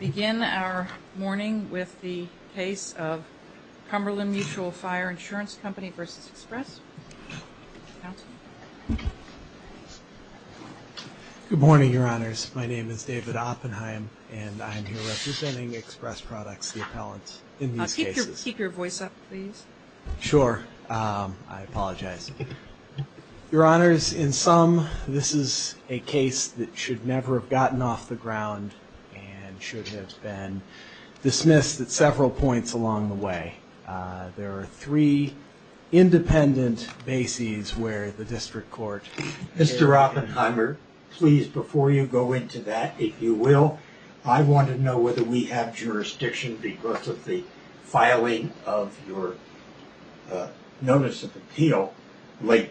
Begin our morning with the case of Cumberland Mutual Fire Insurance Company v. Express. Good morning, Your Honors. My name is David Oppenheim, and I'm here representing Express Products, the appellant in these cases. Keep your voice up, please. Sure. I apologize. Your Honors, in sum, this is a case that should never have gotten off the ground and should have been dismissed at several points along the way. There are three independent bases where the district court... Mr. Oppenheimer, please, before you go into that, if you will, I want to know whether we have jurisdiction because of the filing of your notice of appeal late.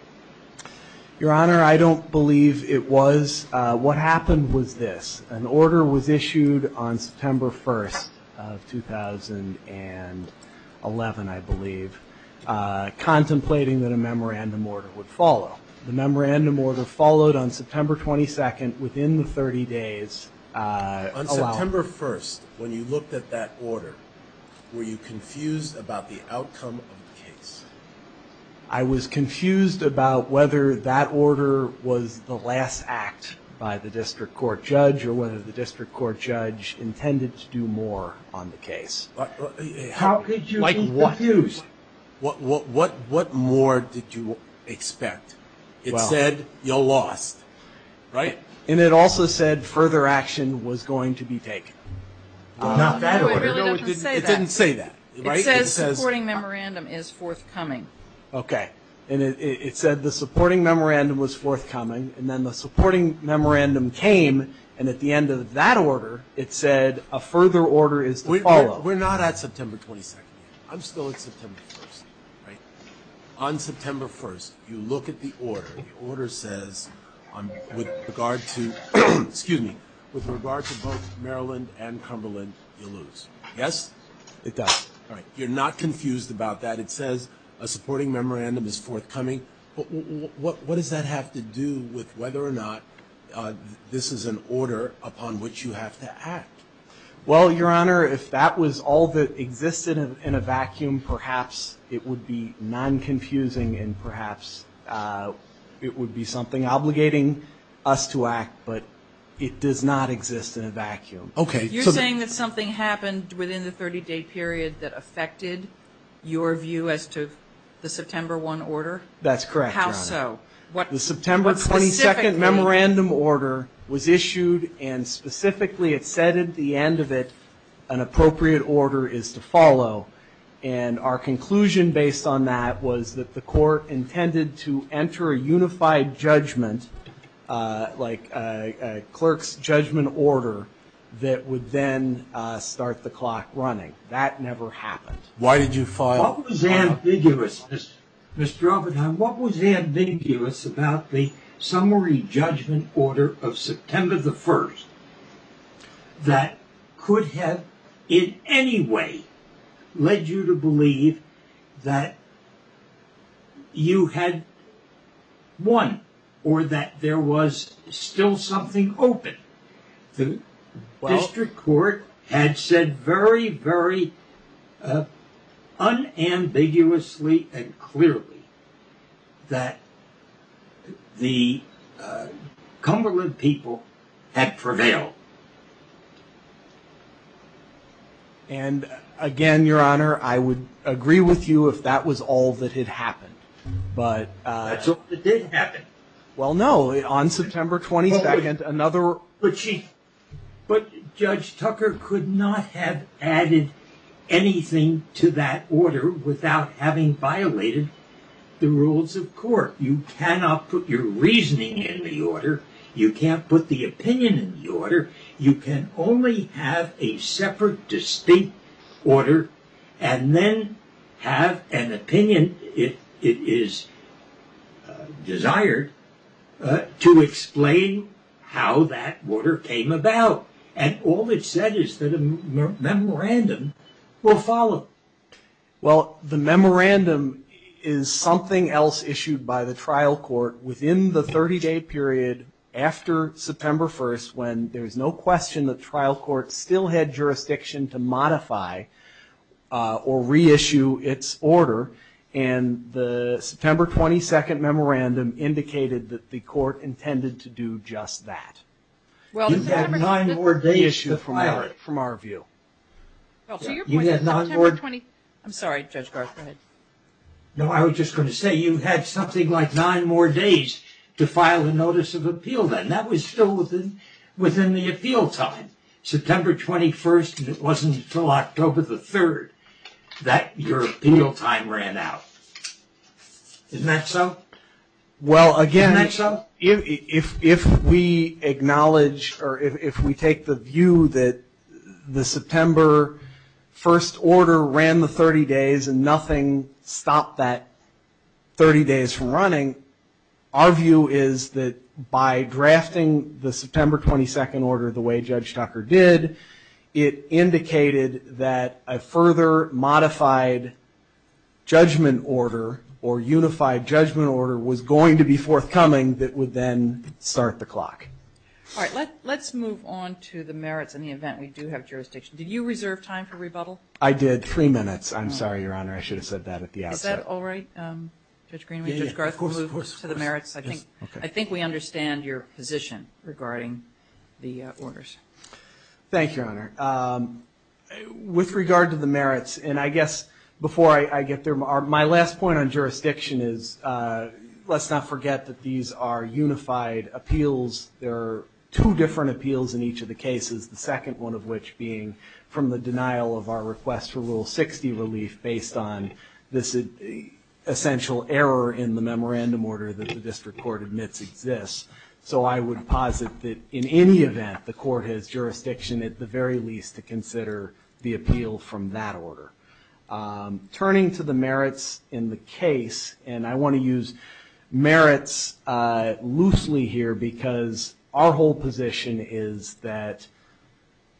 Your Honor, I don't believe it was. What happened was this. An order was issued on September 1st of 2011, I believe, contemplating that a memorandum order would follow. The memorandum order followed on September 22nd within the 30 days allowed. On September 1st, when you looked at that order, were you confused about the outcome of the case? I was confused about whether that order was the last act by the district court judge or whether the district court judge intended to do more on the case. How could you be confused? What more did you expect? It said you're lost, right? And it also said further action was going to be taken. Not that order. It didn't say that. It says supporting memorandum is forthcoming. Okay. And it said the supporting memorandum was forthcoming. And then the supporting memorandum came. And at the end of that order, it said a further order is to follow. We're not at September 22nd. I'm still at September 1st, right? On September 1st, you look at the order. The order on with regard to excuse me, with regard to both Maryland and Cumberland, you lose. Yes, it does. All right. You're not confused about that. It says a supporting memorandum is forthcoming. What does that have to do with whether or not this is an order upon which you have to act? Well, your honor, if that was all that existed in a vacuum, perhaps it would be non confusing. And perhaps it would be something obligating us to act, but it does not exist in a vacuum. Okay. You're saying that something happened within the 30 day period that affected your view as to the September 1 order? That's correct. How so? The September 22nd memorandum order was issued and specifically it said at the end of it, an appropriate order is to follow. And our conclusion based on that was that the court intended to enter a unified judgment, like a clerk's judgment order that would then start the clock running. That never happened. Why did you file? What was ambiguous, Mr. Oppenheim? What was ambiguous about the led you to believe that you had won or that there was still something open? The district court had said very, very unambiguously and clearly that the Cumberland people had prevailed. And again, your honor, I would agree with you if that was all that had happened, but it did happen. Well, no, on September 22nd, another. But Judge Tucker could not have added anything to that order without having violated the rules of court. You cannot put your reasoning in the order. You can't put the opinion in the order. You can only have a separate, distinct order and then have an opinion, if it is desired, to explain how that order came about. And all it said is that a memorandum will follow. Well, the memorandum is something else issued by the trial court within the 30-day period after September 1st, when there is no question the trial court still had jurisdiction to modify or reissue its order. And the September 22nd memorandum indicated that the court intended to do just that. Well, you have nine more days from our view. I'm sorry, Judge Garth. Go ahead. No, I was just going to say you had something like nine more days to file a notice of appeal then. That was still within the appeal time. September 21st, and it wasn't until October the 3rd that your appeal time ran out. Isn't that so? Well, again, if we acknowledge or if we take the view that the September 1st order ran the 30 days and nothing stopped that 30 days from running, our view is that by drafting the September 22nd order the way Judge Tucker did, it indicated that a further modified judgment order or unified judgment order was going to be forthcoming that would then start the clock. All right, let's move on to the merits in the event we do have jurisdiction. Did you reserve time for rebuttal? I did. Three minutes. I'm sorry, Your Honor. I should have said that at the outset. Is that all right, Judge Greenway? Judge Garth, we'll move to the merits. I think we understand your position regarding the orders. Thank you, Your Honor. With regard to the merits, and I guess before I get there, my last point on jurisdiction is let's not forget that these are unified appeals. There are two different appeals in each of the cases, the second one of which being from the request for Rule 60 relief based on this essential error in the memorandum order that the district court admits exists. So I would posit that in any event the court has jurisdiction at the very least to consider the appeal from that order. Turning to the merits in the case, and I want to use merits loosely here because our whole position is that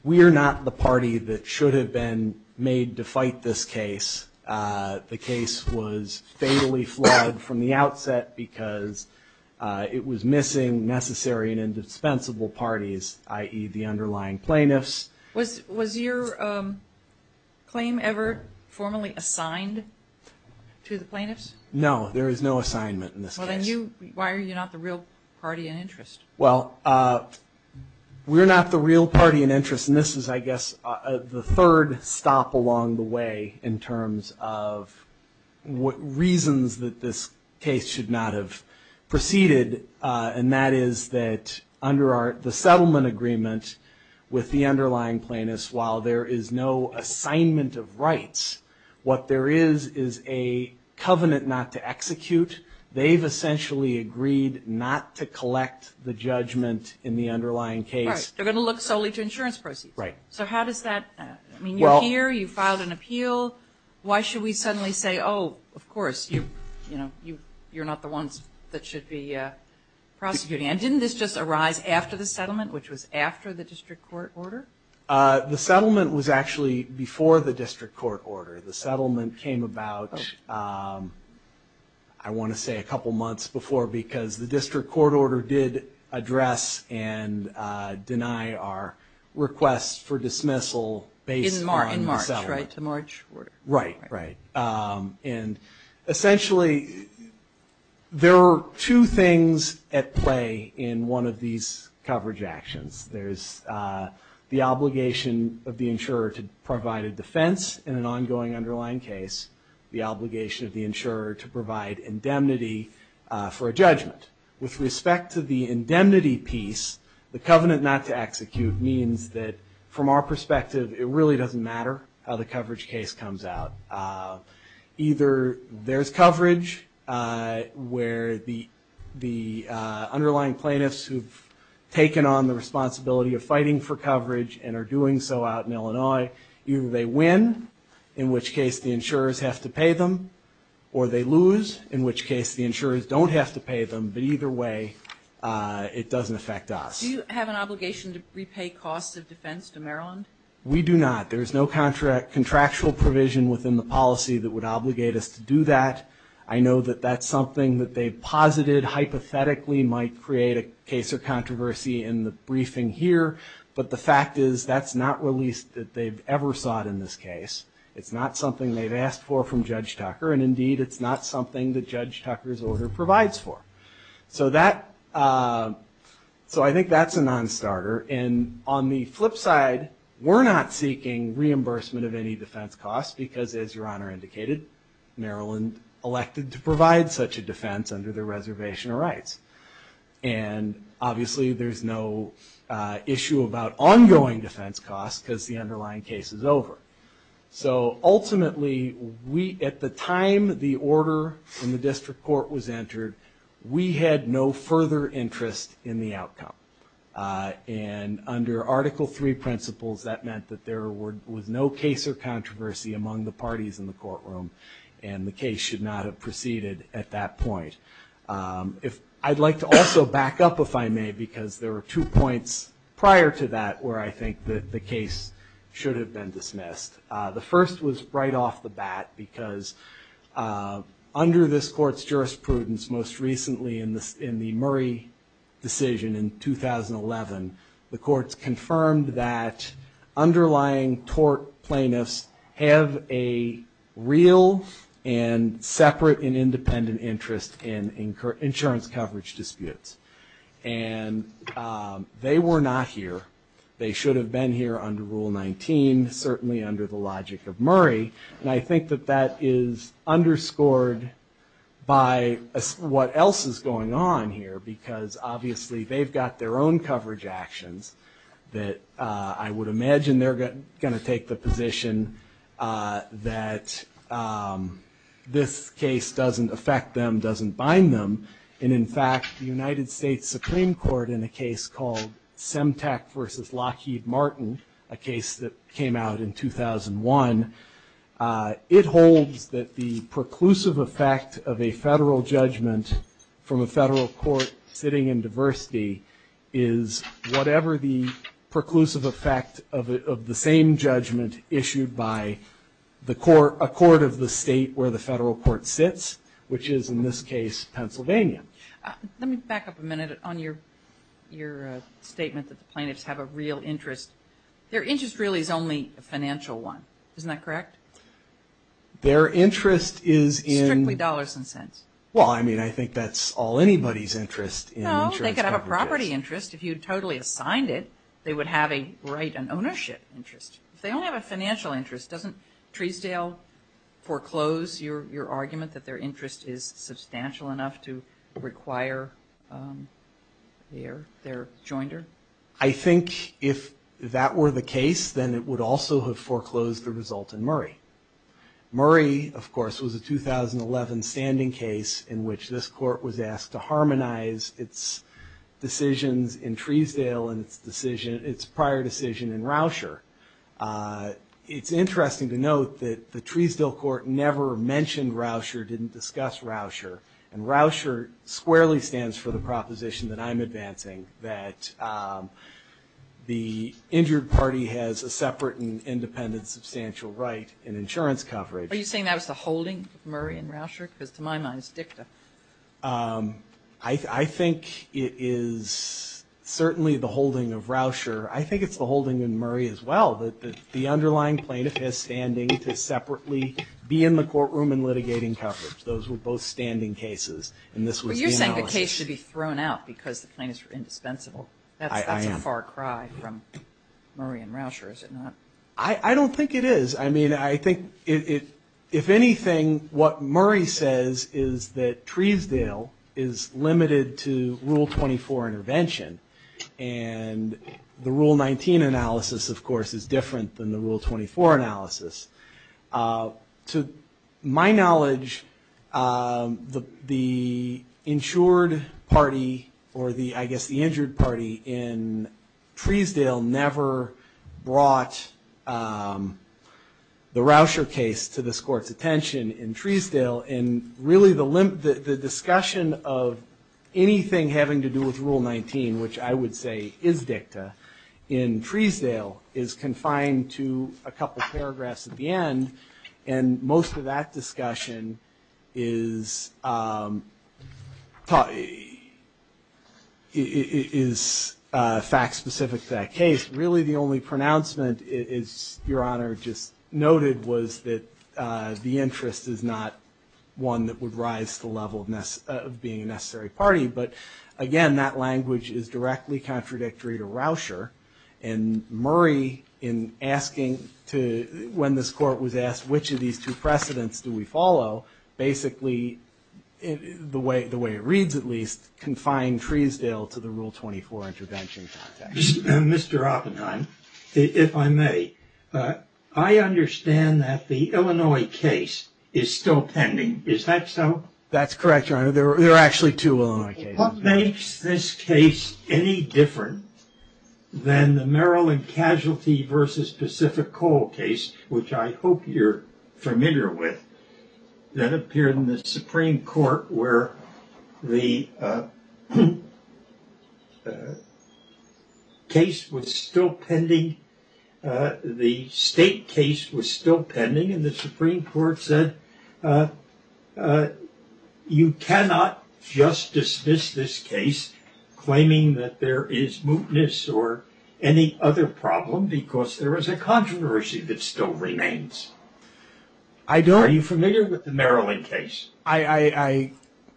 we are not the party that should have been made to fight this case. The case was fatally fled from the outset because it was missing necessary and indispensable parties, i.e. the underlying plaintiffs. Was your claim ever formally assigned to the plaintiffs? No, there is no assignment in this case. Why are you not the real party in interest? Well, we're not the real party in interest, and this is, I guess, the third stop along the way in terms of what reasons that this case should not have proceeded, and that is that under the settlement agreement with the underlying plaintiffs, while there is no assignment of rights, what there is is a covenant not to execute. They've essentially agreed not to collect the judgment in the underlying case. Right, they're going to look solely to insurance proceeds. Right. So how does that, I mean, you're here, you filed an appeal, why should we suddenly say, oh, of course, you're not the ones that should be prosecuting? And didn't this just arise after the settlement, which was after the district court order? The settlement was actually before the district court order. The settlement came about, I want to say a couple months before because the district court order did address and deny our request for dismissal based on the settlement. In March, right, the March order. Right, right. And essentially, there are two things at play in one of these coverage actions. There's the obligation of the insurer to provide a defense in an ongoing underlying case, the obligation of the insurer to provide indemnity for a judgment. With respect to the indemnity piece, the covenant not to execute means that, from our perspective, it really doesn't matter how the coverage case comes out. Either there's coverage where the underlying plaintiffs who've taken on the responsibility of fighting for coverage and are doing so out in Illinois, either they win, in which case the insurers have to pay them, or they lose, in which case the insurers don't have to pay them. But either way, it doesn't affect us. Do you have an obligation to repay costs of defense to Maryland? We do not. There is no contract contractual provision within the policy that would obligate us to do that. I know that that's something that they've posited hypothetically might create a case or controversy in the briefing here. But the fact is that's not released that they've ever sought in this case. It's not something they've asked for from Judge Tucker. And indeed, it's not something that Judge Tucker's order provides for. So I think that's a non-starter. And on the flip side, we're not seeking reimbursement of any defense costs because, as Your Honor indicated, Maryland elected to provide such a defense under their reservation of rights. And obviously, there's no issue about ongoing defense costs because the underlying case is over. So ultimately, at the time the order in the district court was entered, we had no further interest in the outcome. And under Article III principles, that meant that there was no case or controversy among the parties in the courtroom, and the case should not have proceeded at that point. I'd like to also back up, if I may, because there were two points prior to that where I think that the case should have been dismissed. The first was right off the bat because under this court's jurisprudence most recently in the Murray decision in 2011, the courts confirmed that underlying tort plaintiffs have a real and separate and independent interest in insurance coverage disputes. And they were not here. They should have been here under Rule 19, certainly under the logic of Murray. And I think that that is underscored by what else is going on here because obviously they've got their own coverage actions that I would imagine they're going to take the position that this case doesn't affect them, doesn't bind them. And in fact, the United States Supreme Court in a case called Semtec versus Lockheed Martin, a case that came out in 2001, it holds that the is whatever the preclusive effect of the same judgment issued by a court of the state where the federal court sits, which is in this case Pennsylvania. Let me back up a minute on your statement that the plaintiffs have a real interest. Their interest really is only a financial one. Isn't that correct? Their interest is in Strictly dollars and cents. Well, I mean, I think that's all anybody's interest in insurance coverage. They could have a property interest if you totally assigned it. They would have a right and ownership interest. If they only have a financial interest, doesn't Treesdale foreclose your argument that their interest is substantial enough to require their joinder? I think if that were the case, then it would also have foreclosed the result in Murray. Murray, of course, was a 2011 standing case in which this court was asked to harmonize its decisions in Treesdale and its prior decision in Rousher. It's interesting to note that the Treesdale court never mentioned Rousher, didn't discuss Rousher. And Rousher squarely stands for the proposition that I'm advancing, that the injured party has a separate and independent substantial right in insurance coverage. Are you saying that was the holding of Murray and Rousher? Because to my mind, it's DICTA. I think it is certainly the holding of Rousher. I think it's the holding in Murray as well, that the underlying plaintiff has standing to separately be in the courtroom and litigating coverage. Those were both standing cases, and this was the analysis. The case should be thrown out because the plaintiffs were indispensable. That's a far cry from Murray and Rousher, is it not? I don't think it is. I mean, I think if anything, what Murray says is that Treesdale is limited to Rule 24 intervention. And the Rule 19 analysis, of course, is different than the Rule 24 analysis. To my knowledge, the insured party, or I guess the injured party in Treesdale never brought the Rousher case to this court's attention in Treesdale. And really the discussion of anything having to do with Rule 19, which I would say is DICTA, in Treesdale is confined to a couple paragraphs at the end. And most of that discussion is fact-specific to that case. Really the only pronouncement, as Your Honor just noted, was that the interest is not one that would rise to the level of being a necessary party. But again, that language is when this court was asked which of these two precedents do we follow, basically, the way it reads at least, confined Treesdale to the Rule 24 intervention context. Mr. Oppenheim, if I may, I understand that the Illinois case is still pending. Is that so? That's correct, Your Honor. There are actually two Illinois cases. What makes this case any different than the Maryland Casualty v. Pacific Coal case, which I hope you're familiar with, that appeared in the Supreme Court where the case was still pending, the state case was still pending, and the Supreme Court said you cannot just dismiss this case claiming that there is mootness or any other problem because there is a controversy that still remains. Are you familiar with the Maryland case? I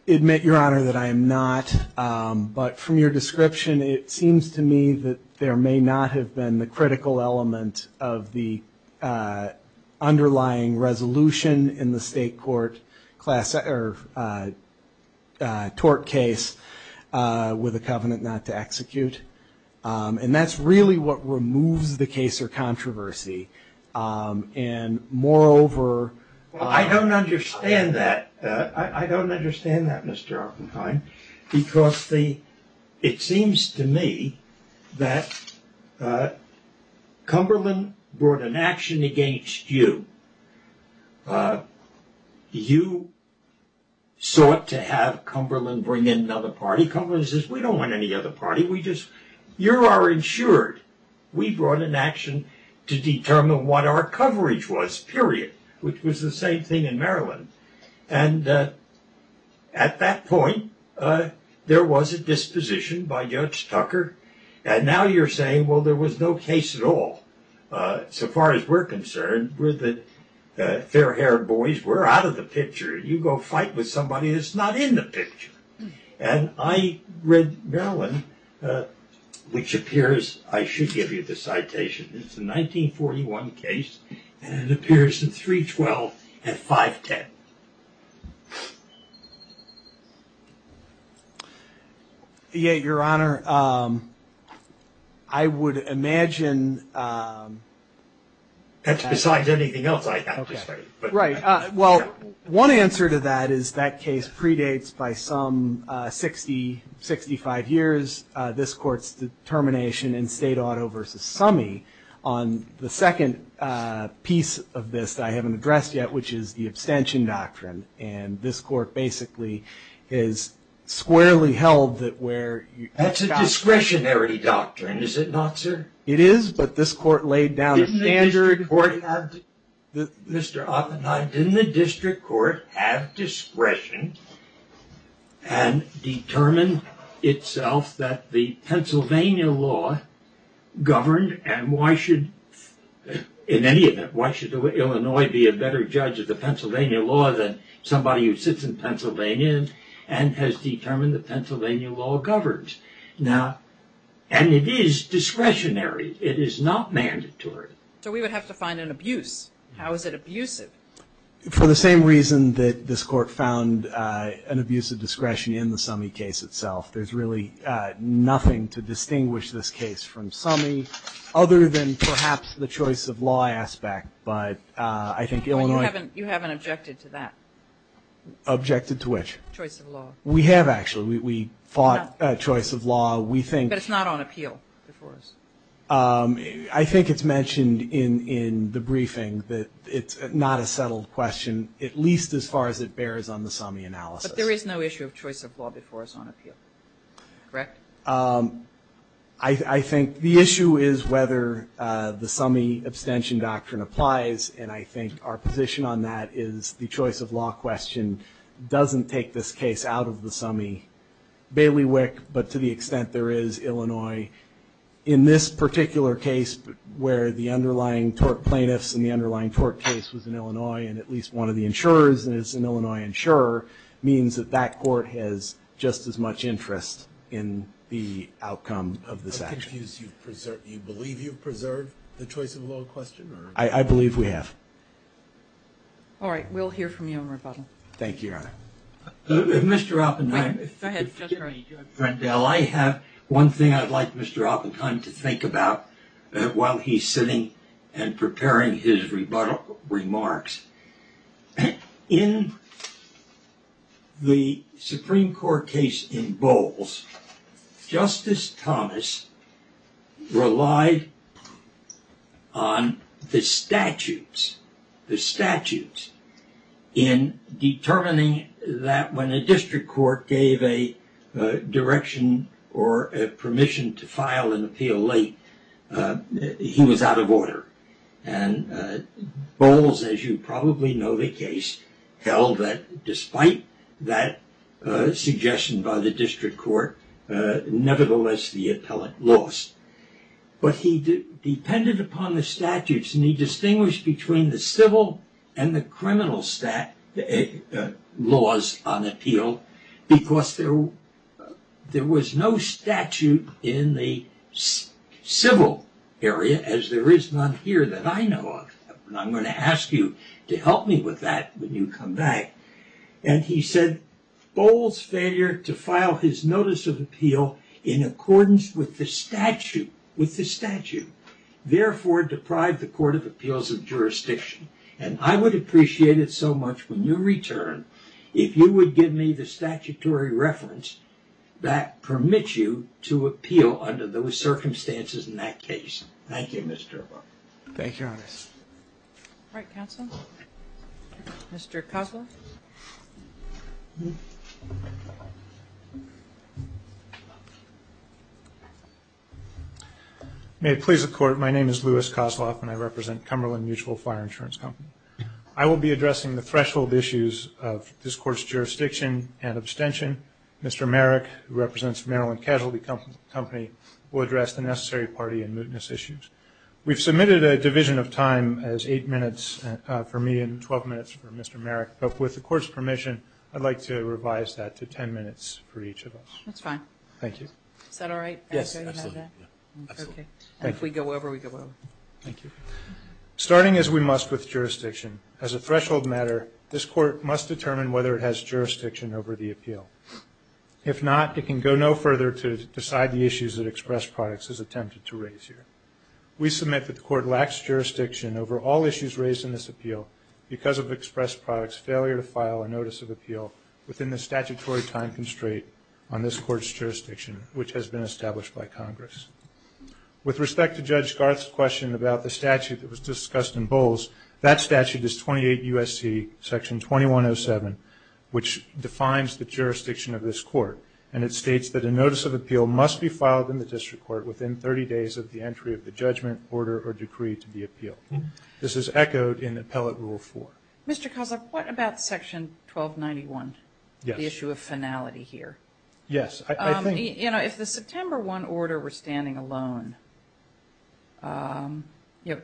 admit, Your Honor, that I am not. But from your description, it seems to me that there may not have been the critical element of the underlying resolution in the state court tort case with a covenant not to execute. And that's really what removes the case or controversy. And moreover... I don't understand that. I don't understand that, Mr. Oppenheim, because it seems to me that Cumberland brought an action against you. You sought to have Cumberland bring in another party. Cumberland says, we don't want any other party. You are insured. We brought an action to determine what our coverage was, period, which was the same thing in Maryland. And at that point, there was a disposition by Judge Tucker. And now you're saying, well, there was no case at all. So far as we're concerned, we're the fair-haired boys. We're out of the picture. You go fight with somebody that's not in the picture. And I read Maryland, which appears, I should give you the answer. Your Honor, I would imagine... That's besides anything else I have to say. Right. Well, one answer to that is that case predates by some 60, 65 years, this court's termination in State Auto v. Summey on the second piece of this that I haven't addressed yet, which is the abstention doctrine. And this court basically is squarely held that where... That's a discretionary doctrine, is it not, sir? It is, but this court laid down a standard... Mr. Oppenheim, didn't the district court have discretion and determine itself that the Pennsylvania law that somebody who sits in Pennsylvania and has determined that Pennsylvania law governs? And it is discretionary. It is not mandatory. So we would have to find an abuse. How is it abusive? For the same reason that this court found an abusive discretion in the Summey case itself. There's really nothing to distinguish this case from Summey other than perhaps the choice of law but I think Illinois... You haven't objected to that. Objected to which? Choice of law. We have actually. We fought choice of law. We think... But it's not on appeal before us. I think it's mentioned in the briefing that it's not a settled question, at least as far as it bears on the Summey analysis. But there is no issue of choice of law before us on appeal, correct? Um, I think the issue is whether the Summey abstention doctrine applies. And I think our position on that is the choice of law question doesn't take this case out of the Summey bailiwick. But to the extent there is Illinois in this particular case, where the underlying tort plaintiffs and the underlying tort case was in Illinois, and at least one of the insurers is an Illinois insurer, means that that court has just as much interest in the outcome of this action. I'm confused. You believe you've preserved the choice of law question or... I believe we have. All right. We'll hear from you on rebuttal. Thank you, Your Honor. Mr. Alpenheim... Go ahead. I have one thing I'd like Mr. Alpenheim to think about while he's sitting and preparing his rebuttal remarks. In the Supreme Court case in Bowles, Justice Thomas relied on the statutes, the statutes in determining that when a district court gave a direction or a permission to file an appeal late, he was out of order. And Bowles, as you probably know the case, held that despite that suggestion by the district court, nevertheless the appellate lost. But he depended upon the statutes, and he distinguished between the civil and the criminal laws on appeal, because there was no statute in the civil area, as there is none here that I know of. And I'm going to ask you to help me with that when you come back. And he said Bowles' failure to file his notice of appeal in accordance with the statute, therefore deprived the Court of Appeals of jurisdiction. And I would appreciate it so much when you return, if you would give me the statutory reference that permits you to appeal under those circumstances in that case. Thank you, Mr. Obama. Thank you, Your Honor. All right, counsel. Mr. Kozloff. May it please the Court, my name is Louis Kozloff, and I represent Cumberland Mutual Fire Insurance Company. I will be addressing the threshold issues of this Court's jurisdiction and abstention. Mr. Merrick, who represents Maryland Casualty Company, will address the necessary party and mootness issues. We've submitted a division of time as 8 minutes for me and 12 minutes for Mr. Merrick, but with the Court's permission, I'd like to revise that to 10 minutes for each of us. That's fine. Thank you. Is that all right? Yes, absolutely. Okay, and if we go over, we go over. Thank you. Starting as we must with jurisdiction, as a threshold matter, this Court must determine whether it has jurisdiction over the appeal. If not, it can go no further to decide the issues that Express Products has attempted to raise here. We submit that the Court lacks jurisdiction over all issues raised in this appeal because of Express Products' failure to file a notice of appeal within the statutory time constraint on this Court's jurisdiction, which has been established by Congress. With respect to Judge Garth's question about the statute that was discussed in Bowles, that statute is 28 U.S.C. Section 2107, which defines the jurisdiction of this Court, and it states that a notice of appeal must be filed in the district court within 30 days of the entry of the judgment, order, or decree to be appealed. This is echoed in Appellate Rule 4. Mr. Kozloff, what about Section 1291, the issue of finality here? Yes, I think— You know, if the September 1 order were standing alone, you know,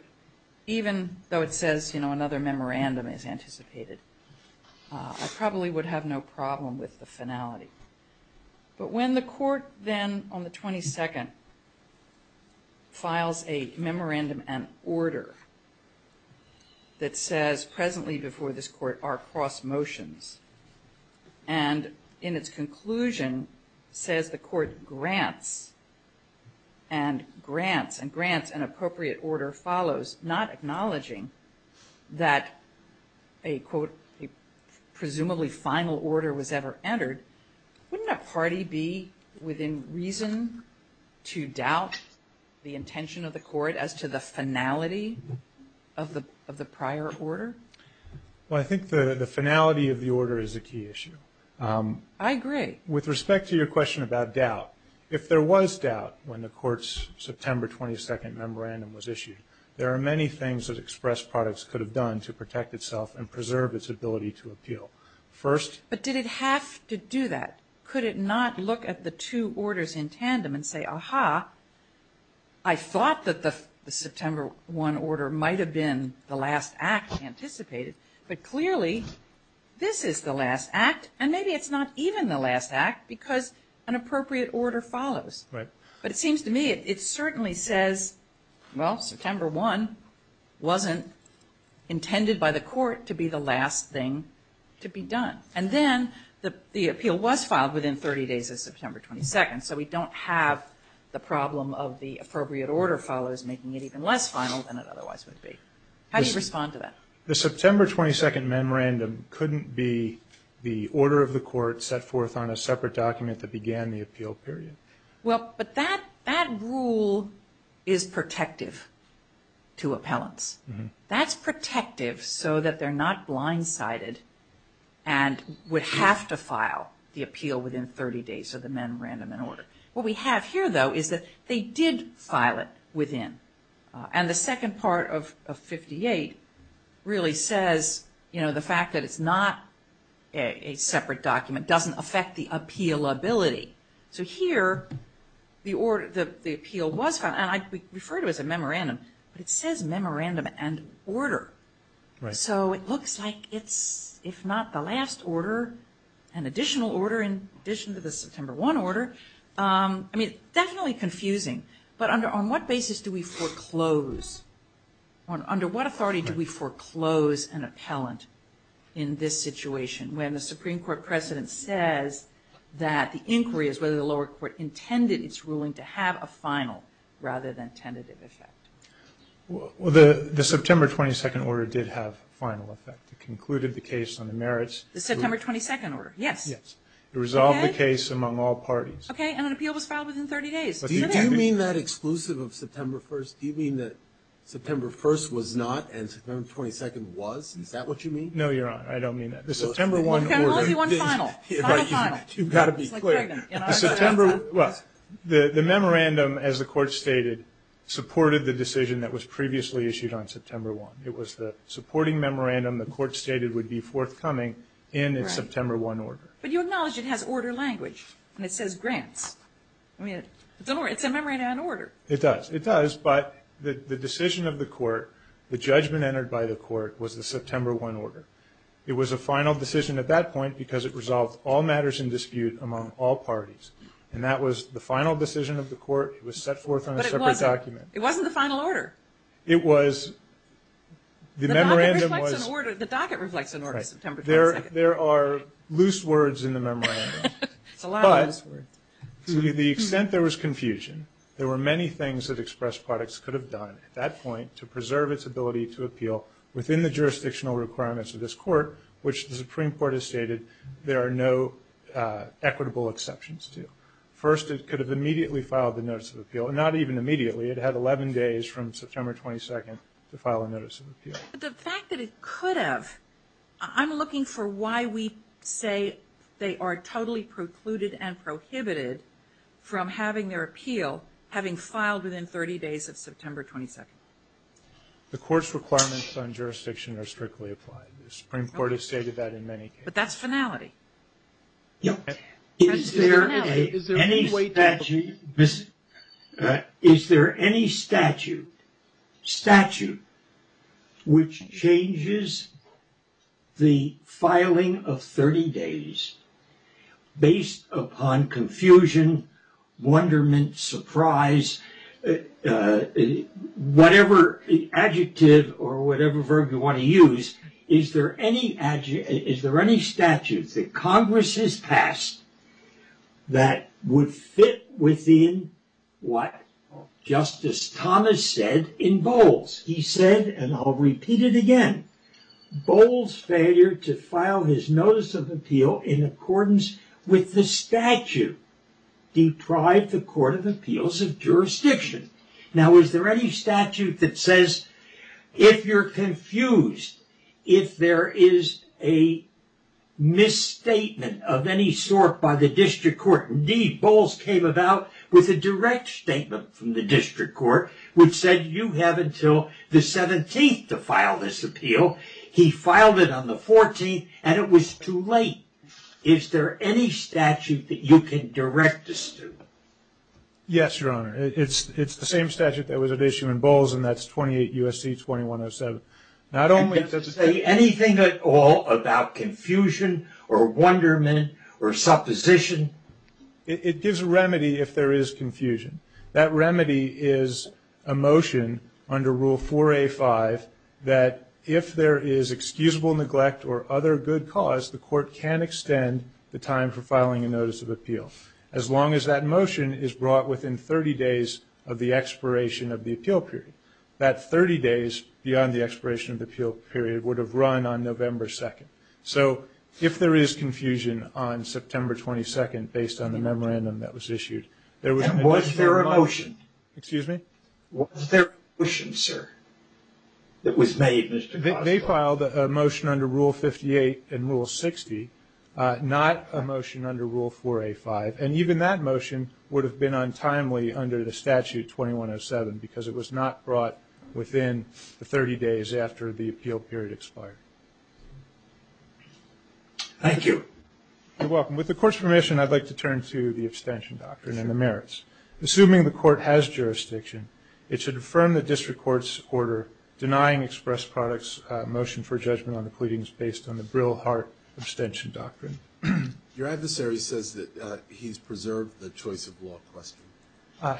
even though it says, you know, another memorandum is anticipated, I probably would have no problem with the finality. But when the Court then, on the 22nd, files a memorandum and order that says presently before this Court are cross motions, and in its conclusion says the Court grants and grants and grants an appropriate order follows, not acknowledging that a, quote, a presumably final order was ever entered, wouldn't a party be within reason to doubt the intention of the Court as to the finality of the prior order? Well, I think the finality of the order is a key issue. I agree. With respect to your question about doubt, if there was doubt when the Court's September 22nd memorandum was issued, there are many things that express products could have done to protect itself and preserve its ability to appeal. First— But did it have to do that? Could it not look at the two orders in tandem and say, aha, I thought that the September 1 order might have been the last act anticipated, but clearly this is the last act, and maybe it's not even the last act because an appropriate order follows. Right. But it seems to me it certainly says, well, September 1 wasn't intended by the Court to be the last thing to be done. And then the appeal was filed within 30 days of September 22nd, so we don't have the problem of the appropriate order follows making it even less final than it otherwise would be. How do you respond to that? The September 22nd memorandum couldn't be the order of the Court set forth on a separate document that began the appeal period. Well, but that rule is protective to appellants. That's protective so that they're not blindsided and would have to file the appeal within 30 days of the memorandum in order. What we have here, though, is that they did file it within. And the second part of 58 really says, you know, the fact that it's not a separate document doesn't affect the appealability. So here, the appeal was filed, and I refer to it as a memorandum, but it says memorandum and order. Right. So it looks like it's, if not the last order, an additional order in addition to the September 1 order. I mean, definitely confusing, but on what basis do we foreclose? Under what authority do we foreclose an appellant in this situation when the Supreme Court precedent says that the inquiry is whether the lower court intended its ruling to have a final rather than tentative effect? Well, the September 22nd order did have a final effect. It concluded the case on the merits. The September 22nd order, yes. Yes. It resolved the case among all parties. Okay, and an appeal was filed within 30 days. Do you mean that exclusive of September 1st? Do you mean that September 1st was not and September 22nd was? Is that what you mean? No, Your Honor, I don't mean that. The September 1 order. It can only be one final. Final, final. You've got to be clear. It's like pregnant. Well, the memorandum, as the court stated, supported the decision that was previously issued on September 1. It was the supporting memorandum the court stated would be forthcoming in its September 1 order. But you acknowledge it has order language and it says grants. I mean, it's a memorandum in order. It does. It does, but the decision of the court, the judgment entered by the court was the September 1 order. It was a final decision at that point because it resolved all matters in dispute among all parties. And that was the final decision of the court. It was set forth on a separate document. It wasn't the final order. It was. The memorandum was. The docket reflects an order to September 22nd. There are loose words in the memorandum. But to the extent there was confusion, there were many things that Express Products could have done at that point which the Supreme Court has stated there are no equitable exceptions to. First, it could have immediately filed the notice of appeal. And not even immediately. It had 11 days from September 22nd to file a notice of appeal. But the fact that it could have, I'm looking for why we say they are totally precluded and prohibited from having their appeal having filed within 30 days of September 22nd. The court's requirements on jurisdiction are strictly applied. The Supreme Court has stated that in many cases. That's finality. Is there any statute which changes the filing of 30 days based upon confusion, wonderment, surprise, whatever adjective or whatever verb you want to use. Is there any statute that Congress has passed that would fit within what Justice Thomas said in Bowles? He said, and I'll repeat it again, Bowles' failure to file his notice of appeal in accordance with the statute deprived the Court of Appeals of jurisdiction. Now, is there any statute that says if you're confused, if there is a misstatement of any sort by the district court. Indeed, Bowles came about with a direct statement from the district court which said you have until the 17th to file this appeal. He filed it on the 14th and it was too late. Is there any statute that you can direct us to? Yes, Your Honor. It's the same statute that was at issue in Bowles and that's 28 U.S.C. 2107. Not only does it say anything at all about confusion or wonderment or supposition. It gives a remedy if there is confusion. That remedy is a motion under Rule 4A5 that if there is excusable neglect or other good cause, the court can extend the time for filing a notice of appeal as long as that motion is brought within 30 days of the expiration of the appeal period. That 30 days beyond the expiration of the appeal period would have run on November 2nd. So if there is confusion on September 22nd based on the memorandum that was issued. And was there a motion? Excuse me? Was there a motion, sir, that was made? They filed a motion under Rule 58 and Rule 60, not a motion under Rule 4A5. And even that motion would have been untimely under the statute 2107 because it was not brought within the 30 days after the appeal period expired. Thank you. You're welcome. With the court's permission, I'd like to turn to the abstention doctrine and the merits. Assuming the court has jurisdiction, it should affirm the district court's order denying express products motion for judgment on the pleadings based on the Brill-Hart abstention doctrine. Your adversary says that he's preserved the choice of law question.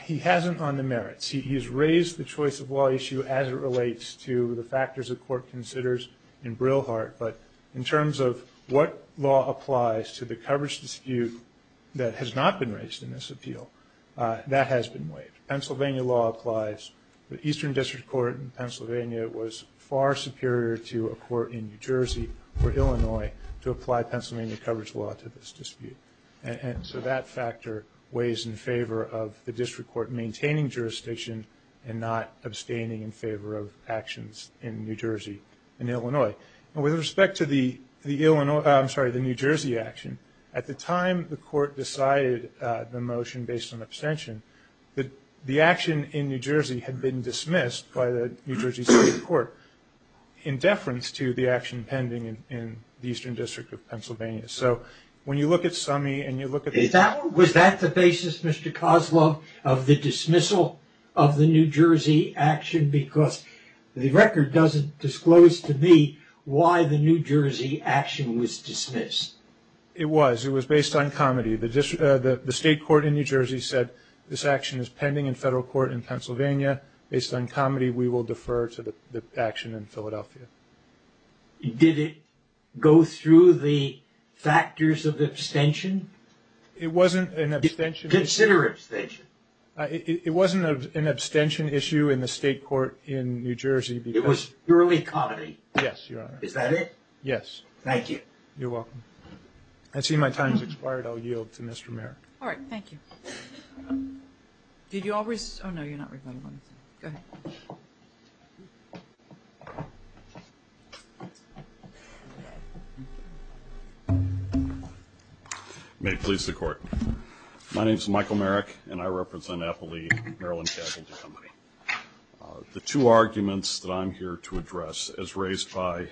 He hasn't on the merits. He has raised the choice of law issue as it relates to the factors the court considers in Brill-Hart. But in terms of what law applies to the coverage dispute that has not been raised in this appeal, that has been waived. Pennsylvania law applies. The Eastern District Court in Pennsylvania was far superior to a court in New Jersey or Illinois to apply Pennsylvania coverage law to this dispute. And so that factor weighs in favor of the district court maintaining jurisdiction and not abstaining in favor of actions in New Jersey and Illinois. And with respect to the Illinois, I'm sorry, the New Jersey action, at the time the court decided the motion based on abstention, the action in New Jersey had been dismissed by the New Jersey State Court in deference to the action pending in the Eastern District of Pennsylvania. So when you look at Summey and you look at- Was that the basis, Mr. Kozlov, of the dismissal of the New Jersey action? Because the record doesn't disclose to me why the New Jersey action was dismissed. It was. It was based on comedy. The state court in New Jersey said this action is pending in federal court in Pennsylvania. Based on comedy, we will defer to the action in Philadelphia. Did it go through the factors of abstention? It wasn't an abstention- Consider abstention. It wasn't an abstention issue in the state court in New Jersey because- It was purely comedy. Yes, Your Honor. Is that it? Yes. Thank you. You're welcome. I see my time's expired. I'll yield to Mr. Mayor. All right, thank you. Did you all- Oh, no, you're not rebuttable. Go ahead. May it please the court. My name is Michael Merrick, and I represent Eppley Maryland Casualty Company. The two arguments that I'm here to address, as raised by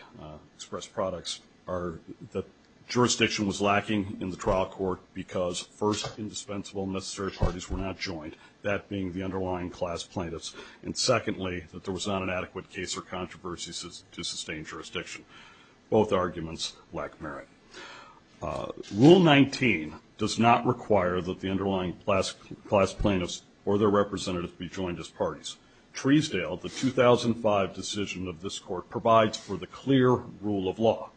Express Products, are that jurisdiction was lacking in the trial court because first, indispensable and necessary parties were not joined, that being the underlying class plaintiffs, and secondly, that there was not an adequate case or controversy to sustain jurisdiction. Both arguments lack merit. Rule 19 does not require that the underlying class plaintiffs or their representatives be joined as parties. Treesdale, the 2005 decision of this court, provides for the clear rule of law.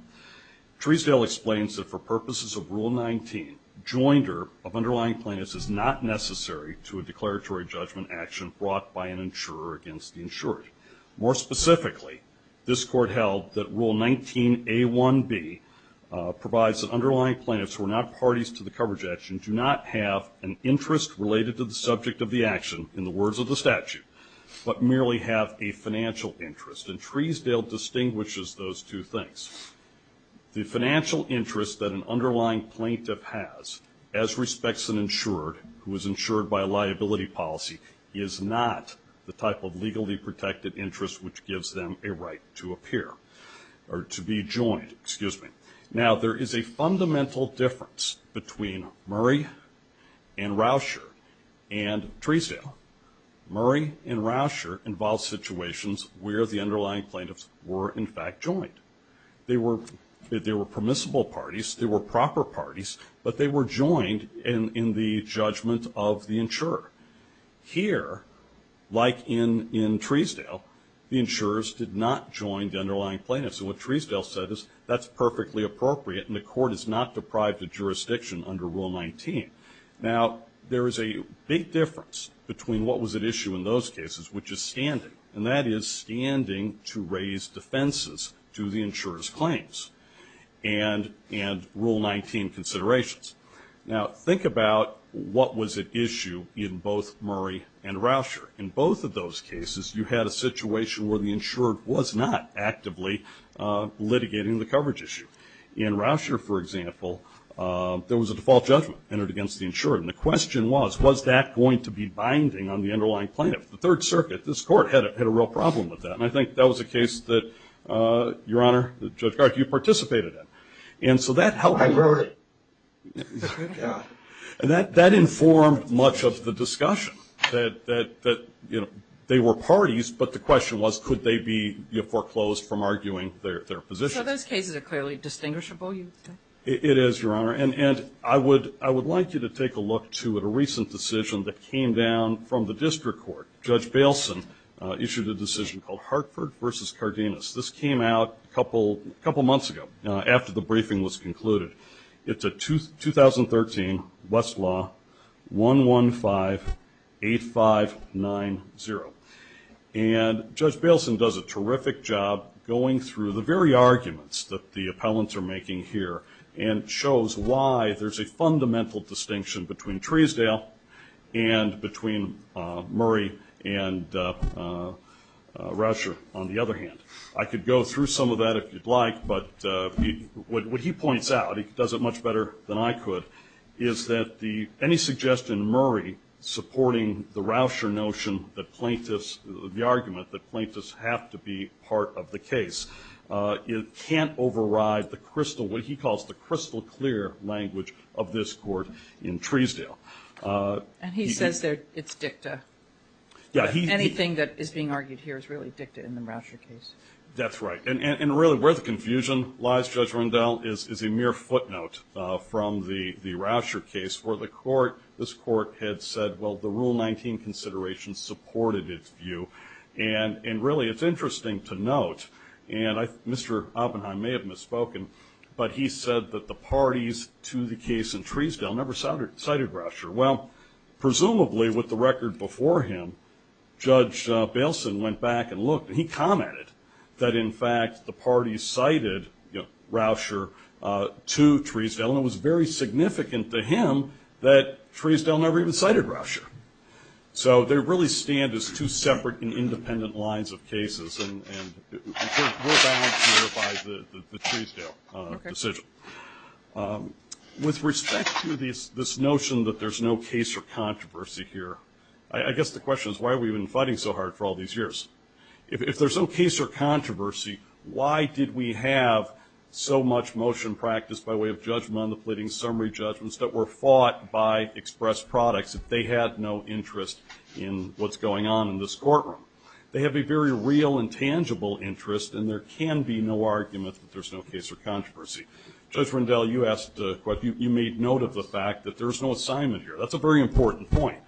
Treesdale explains that for purposes of Rule 19, joinder of underlying plaintiffs is not necessary to a declaratory judgment action brought by an insurer against the insured. More specifically, this court held that Rule 19A1B provides the underlying plaintiffs who are not parties to the coverage action do not have an interest related to the subject of the action in the words of the statute, but merely have a financial interest. And Treesdale distinguishes those two things. The financial interest that an underlying plaintiff has as respects an insured who is insured by a liability policy is not the type of legally protected interest which gives them a right to appear. Or to be joined, excuse me. Now, there is a fundamental difference between Murray and Rousher and Treesdale. Murray and Rousher involve situations where the underlying plaintiffs were in fact joined. They were permissible parties, they were proper parties, but they were joined in the judgment of the insurer. Here, like in Treesdale, the insurers did not join the underlying plaintiffs. And what Treesdale said is, that's perfectly appropriate and the court is not deprived of jurisdiction under Rule 19. Now, there is a big difference between what was at issue in those cases, which is standing. And that is standing to raise defenses to the insurer's claims and Rule 19 considerations. Now, think about what was at issue in both Murray and Rousher. In both of those cases, you had a situation where the insurer was not actively litigating the coverage issue. In Rousher, for example, there was a default judgment entered against the insurer. And the question was, was that going to be binding on the underlying plaintiff? The Third Circuit, this court, had a real problem with that. And I think that was a case that, Your Honor, Judge Garg, you participated in. And so that helped. I wrote it. And that informed much of the discussion that they were parties, but the question was, could they be foreclosed from arguing their position? So those cases are clearly distinguishable? It is, Your Honor. And I would like you to take a look to a recent decision that came down from the district court. Judge Bailson issued a decision called Hartford v. Cardenas. This came out a couple months ago after the briefing was concluded. It's a 2013 Westlaw 115-8590. And Judge Bailson does a terrific job going through the very arguments that the appellants are making here and shows why there's a fundamental distinction between Tresdale and between Murray and Rousher, on the other hand. I could go through some of that if you'd like, but what he points out, he does it much better than I could, is that any suggestion Murray supporting the Rousher notion that plaintiffs, the argument that plaintiffs have to be part of the case, it can't override the crystal, what he calls the crystal clear language of this court in Tresdale. And he says that it's dicta. Anything that is being argued here is really dicta in the Rousher case. That's right. And really where the confusion lies, Judge Rundell, is a mere footnote from the Rousher case where this court had said, well, the Rule 19 consideration supported its view. And really it's interesting to note, and Mr. Oppenheim may have misspoken, but he said that the parties to the case in Tresdale never cited Rousher. Well, presumably with the record before him, Judge Bailson went back and looked and he commented that in fact the parties cited Rousher to Tresdale and it was very significant to him that Tresdale never even cited Rousher. So they really stand as two separate and independent lines of cases and we're bound here by the Tresdale decision. With respect to this notion that there's no case or controversy here, I guess the question is for all these years? If there's no case or controversy, why did we have so much motion practice by way of judgment on the pleading summary judgments that were fought by express products if they had no interest in what's going on in this courtroom? They have a very real and tangible interest and there can be no argument that there's no case or controversy. Judge Rendell, you made note of the fact that there's no assignment here. That's a very important point.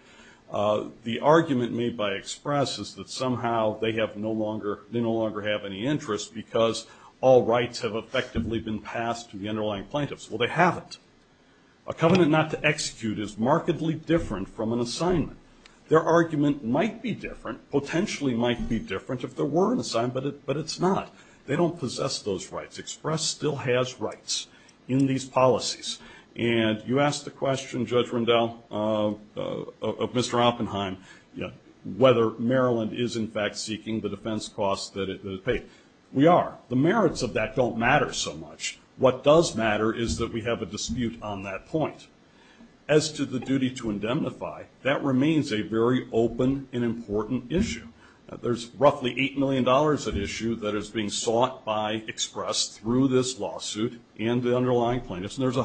The argument made by express is that somehow they no longer have any interest because all rights have effectively been passed to the underlying plaintiffs. Well, they haven't. A covenant not to execute is markedly different from an assignment. Their argument might be different, potentially might be different if there were an assignment, but it's not. They don't possess those rights. Express still has rights in these policies and you asked the question, Judge Rendell, Mr. Oppenheim, whether Maryland is in fact seeking the defense costs that it paid. We are. The merits of that don't matter so much. What does matter is that we have a dispute on that point. As to the duty to indemnify, that remains a very open and important issue. There's roughly $8 million at issue that is being sought by express through this lawsuit and the underlying plaintiffs and there's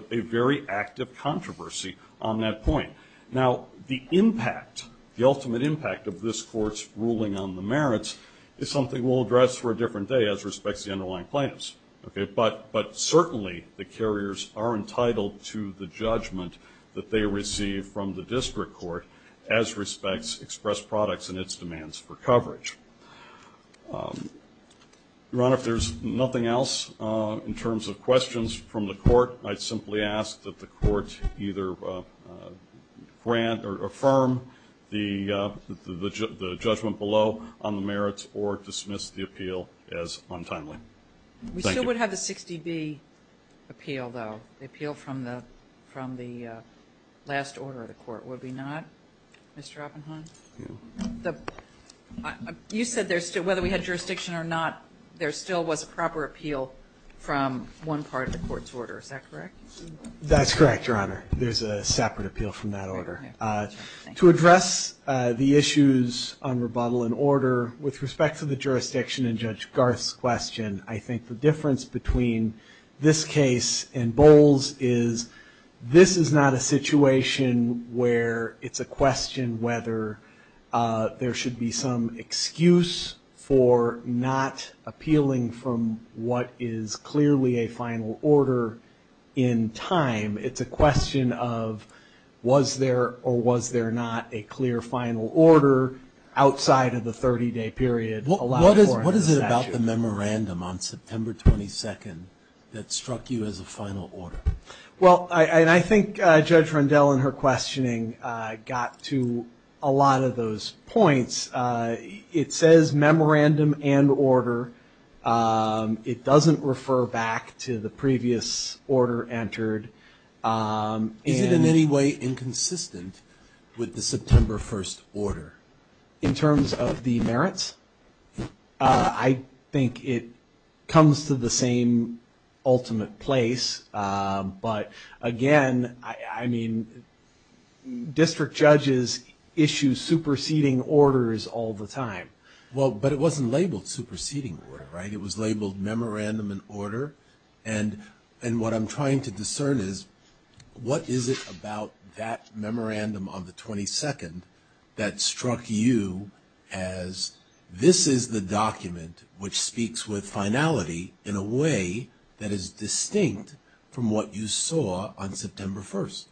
a very active controversy on that point. Now, the impact, the ultimate impact of this court's merits is something we'll address for a different day as respects the underlying plaintiffs, okay, but certainly the carriers are entitled to the judgment that they receive from the district court as respects express products and its demands for coverage. Your Honor, if there's nothing else in terms of questions from the court, I'd simply ask that the court either grant or affirm the judgment below on the merits or dismiss the appeal as untimely. We still would have the 60B appeal though, the appeal from the last order of the court, would we not, Mr. Oppenheim? You said there's still, whether we had jurisdiction or not, there still was a proper appeal from one part of the court's order, That's correct, Your Honor. There's a separate appeal from that order. To address the issues on rebuttal and order, with respect to the jurisdiction in Judge Garth's question, I think the difference between this case and Bowles is this is not a situation where it's a question whether there should be some excuse for not appealing from what is clearly a final order in time. It's a question of, was there or was there not a clear final order outside of the 30-day period allowed for in the statute? What is it about the memorandum on September 22nd that struck you as a final order? Well, and I think Judge Rundell in her questioning got to a lot of those points. It says memorandum and order. It doesn't refer back to the previous order entered. Is it in any way inconsistent with the September 1st order? In terms of the merits, I think it comes to the same ultimate place. But again, I mean, district judges issue superseding orders all the time. Well, but it wasn't labeled superseding order, right? It was labeled memorandum and order. And what I'm trying to discern is what is it about that memorandum on the 22nd that struck you as, this is the document which speaks with finality in a way that is distinct from what you saw on September 1st.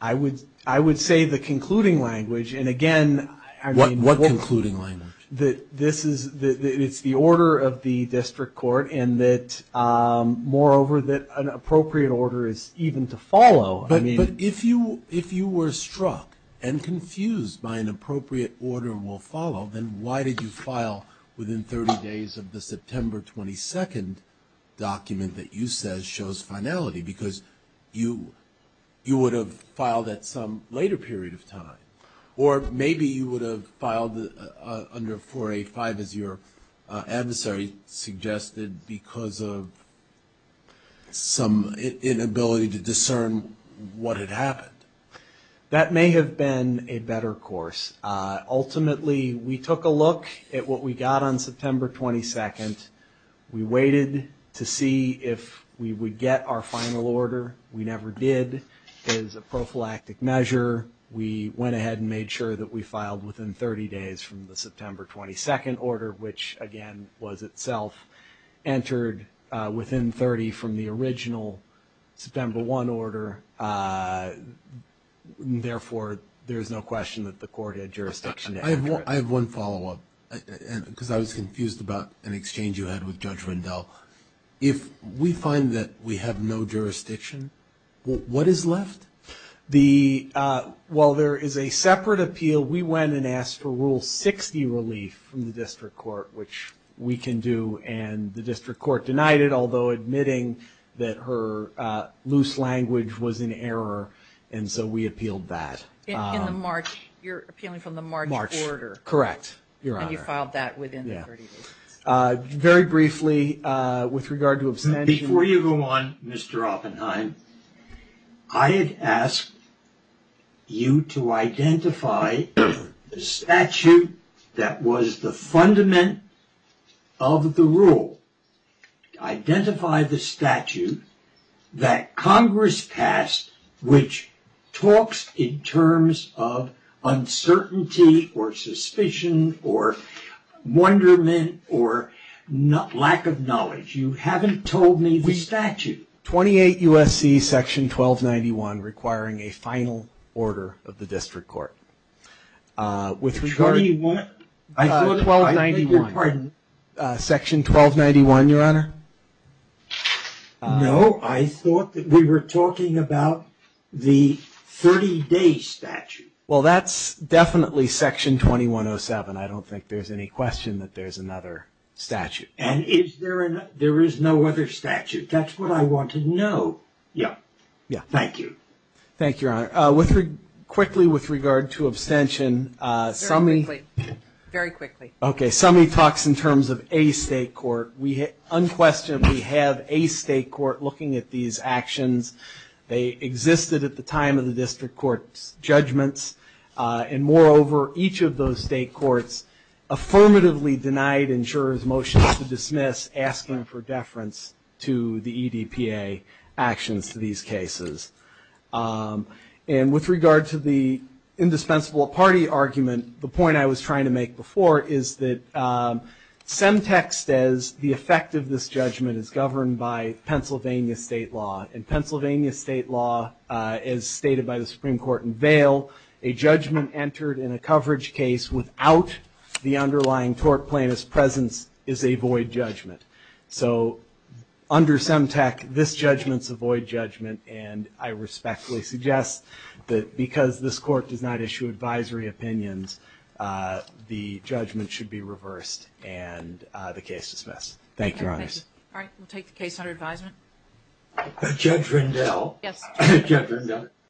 I would say the concluding language. And again, I mean, What concluding language? That this is, it's the order of the district court and that, moreover, that an appropriate order is even to follow. But if you were struck and confused by an appropriate order will follow, then why did you file within 30 days of the September 22nd document that you said shows finality? Because you would have filed at some later period of time. Or maybe you would have filed under 4A-5 as your adversary suggested because of some inability to discern what had happened. That may have been a better course. Ultimately, we took a look at what we got on September 22nd. We waited to see if we would get our final order. We never did. It is a prophylactic measure. We went ahead and made sure that we filed within 30 days from the September 22nd order, which again was itself. Entered within 30 from the original September 1 order. Therefore, there is no question that the court had jurisdiction. I have one follow-up because I was confused about an exchange you had with Judge Rendell. If we find that we have no jurisdiction, what is left? While there is a separate appeal, we went and asked for Rule 60 relief from the district court, which we can do and the district court denied it, although admitting that her loose language was in error. And so we appealed that. In the March, you're appealing from the March order. Correct, Your Honor. And you filed that within 30 days. Very briefly, with regard to abstention. Before you go on, Mr. Oppenheim, I had asked you to identify the statute that was the fundament of the rule. Identify the statute that Congress passed, which talks in terms of uncertainty or suspicion or wonderment or lack of knowledge. You haven't told me the statute. 28 U.S.C. section 1291, requiring a final order of the district court. With regard to- Twenty-one? I thought 1291. Pardon? Section 1291, Your Honor. No, I thought that we were talking about the 30-day statute. Well, that's definitely section 2107. I don't think there's any question that there's another statute. And is there, there is no other statute. That's what I want to know. Yeah, yeah. Thank you. Thank you, Your Honor. Quickly, with regard to abstention, Summi- Very quickly. Okay, Summi talks in terms of a state court. We unquestionably have a state court looking at these actions. They existed at the time of the district court's judgments. And moreover, each of those state courts affirmatively denied insurers' motions to dismiss asking for deference to the EDPA actions to these cases. And with regard to the indispensable party argument, the point I was trying to make before is that Semtec says the effect of this judgment is governed by Pennsylvania state law. In Pennsylvania state law, as stated by the Supreme Court in Vail, a judgment entered in a coverage case without the underlying tort plaintiff's presence is a void judgment. So under Semtec, this judgment's a void judgment. And I respectfully suggest that because this court does not issue advisory opinions, the judgment should be reversed and the case dismissed. Thank you, Your Honors. All right, we'll take the case under advisement. Judge Rindell. Yes. Judge Rindell.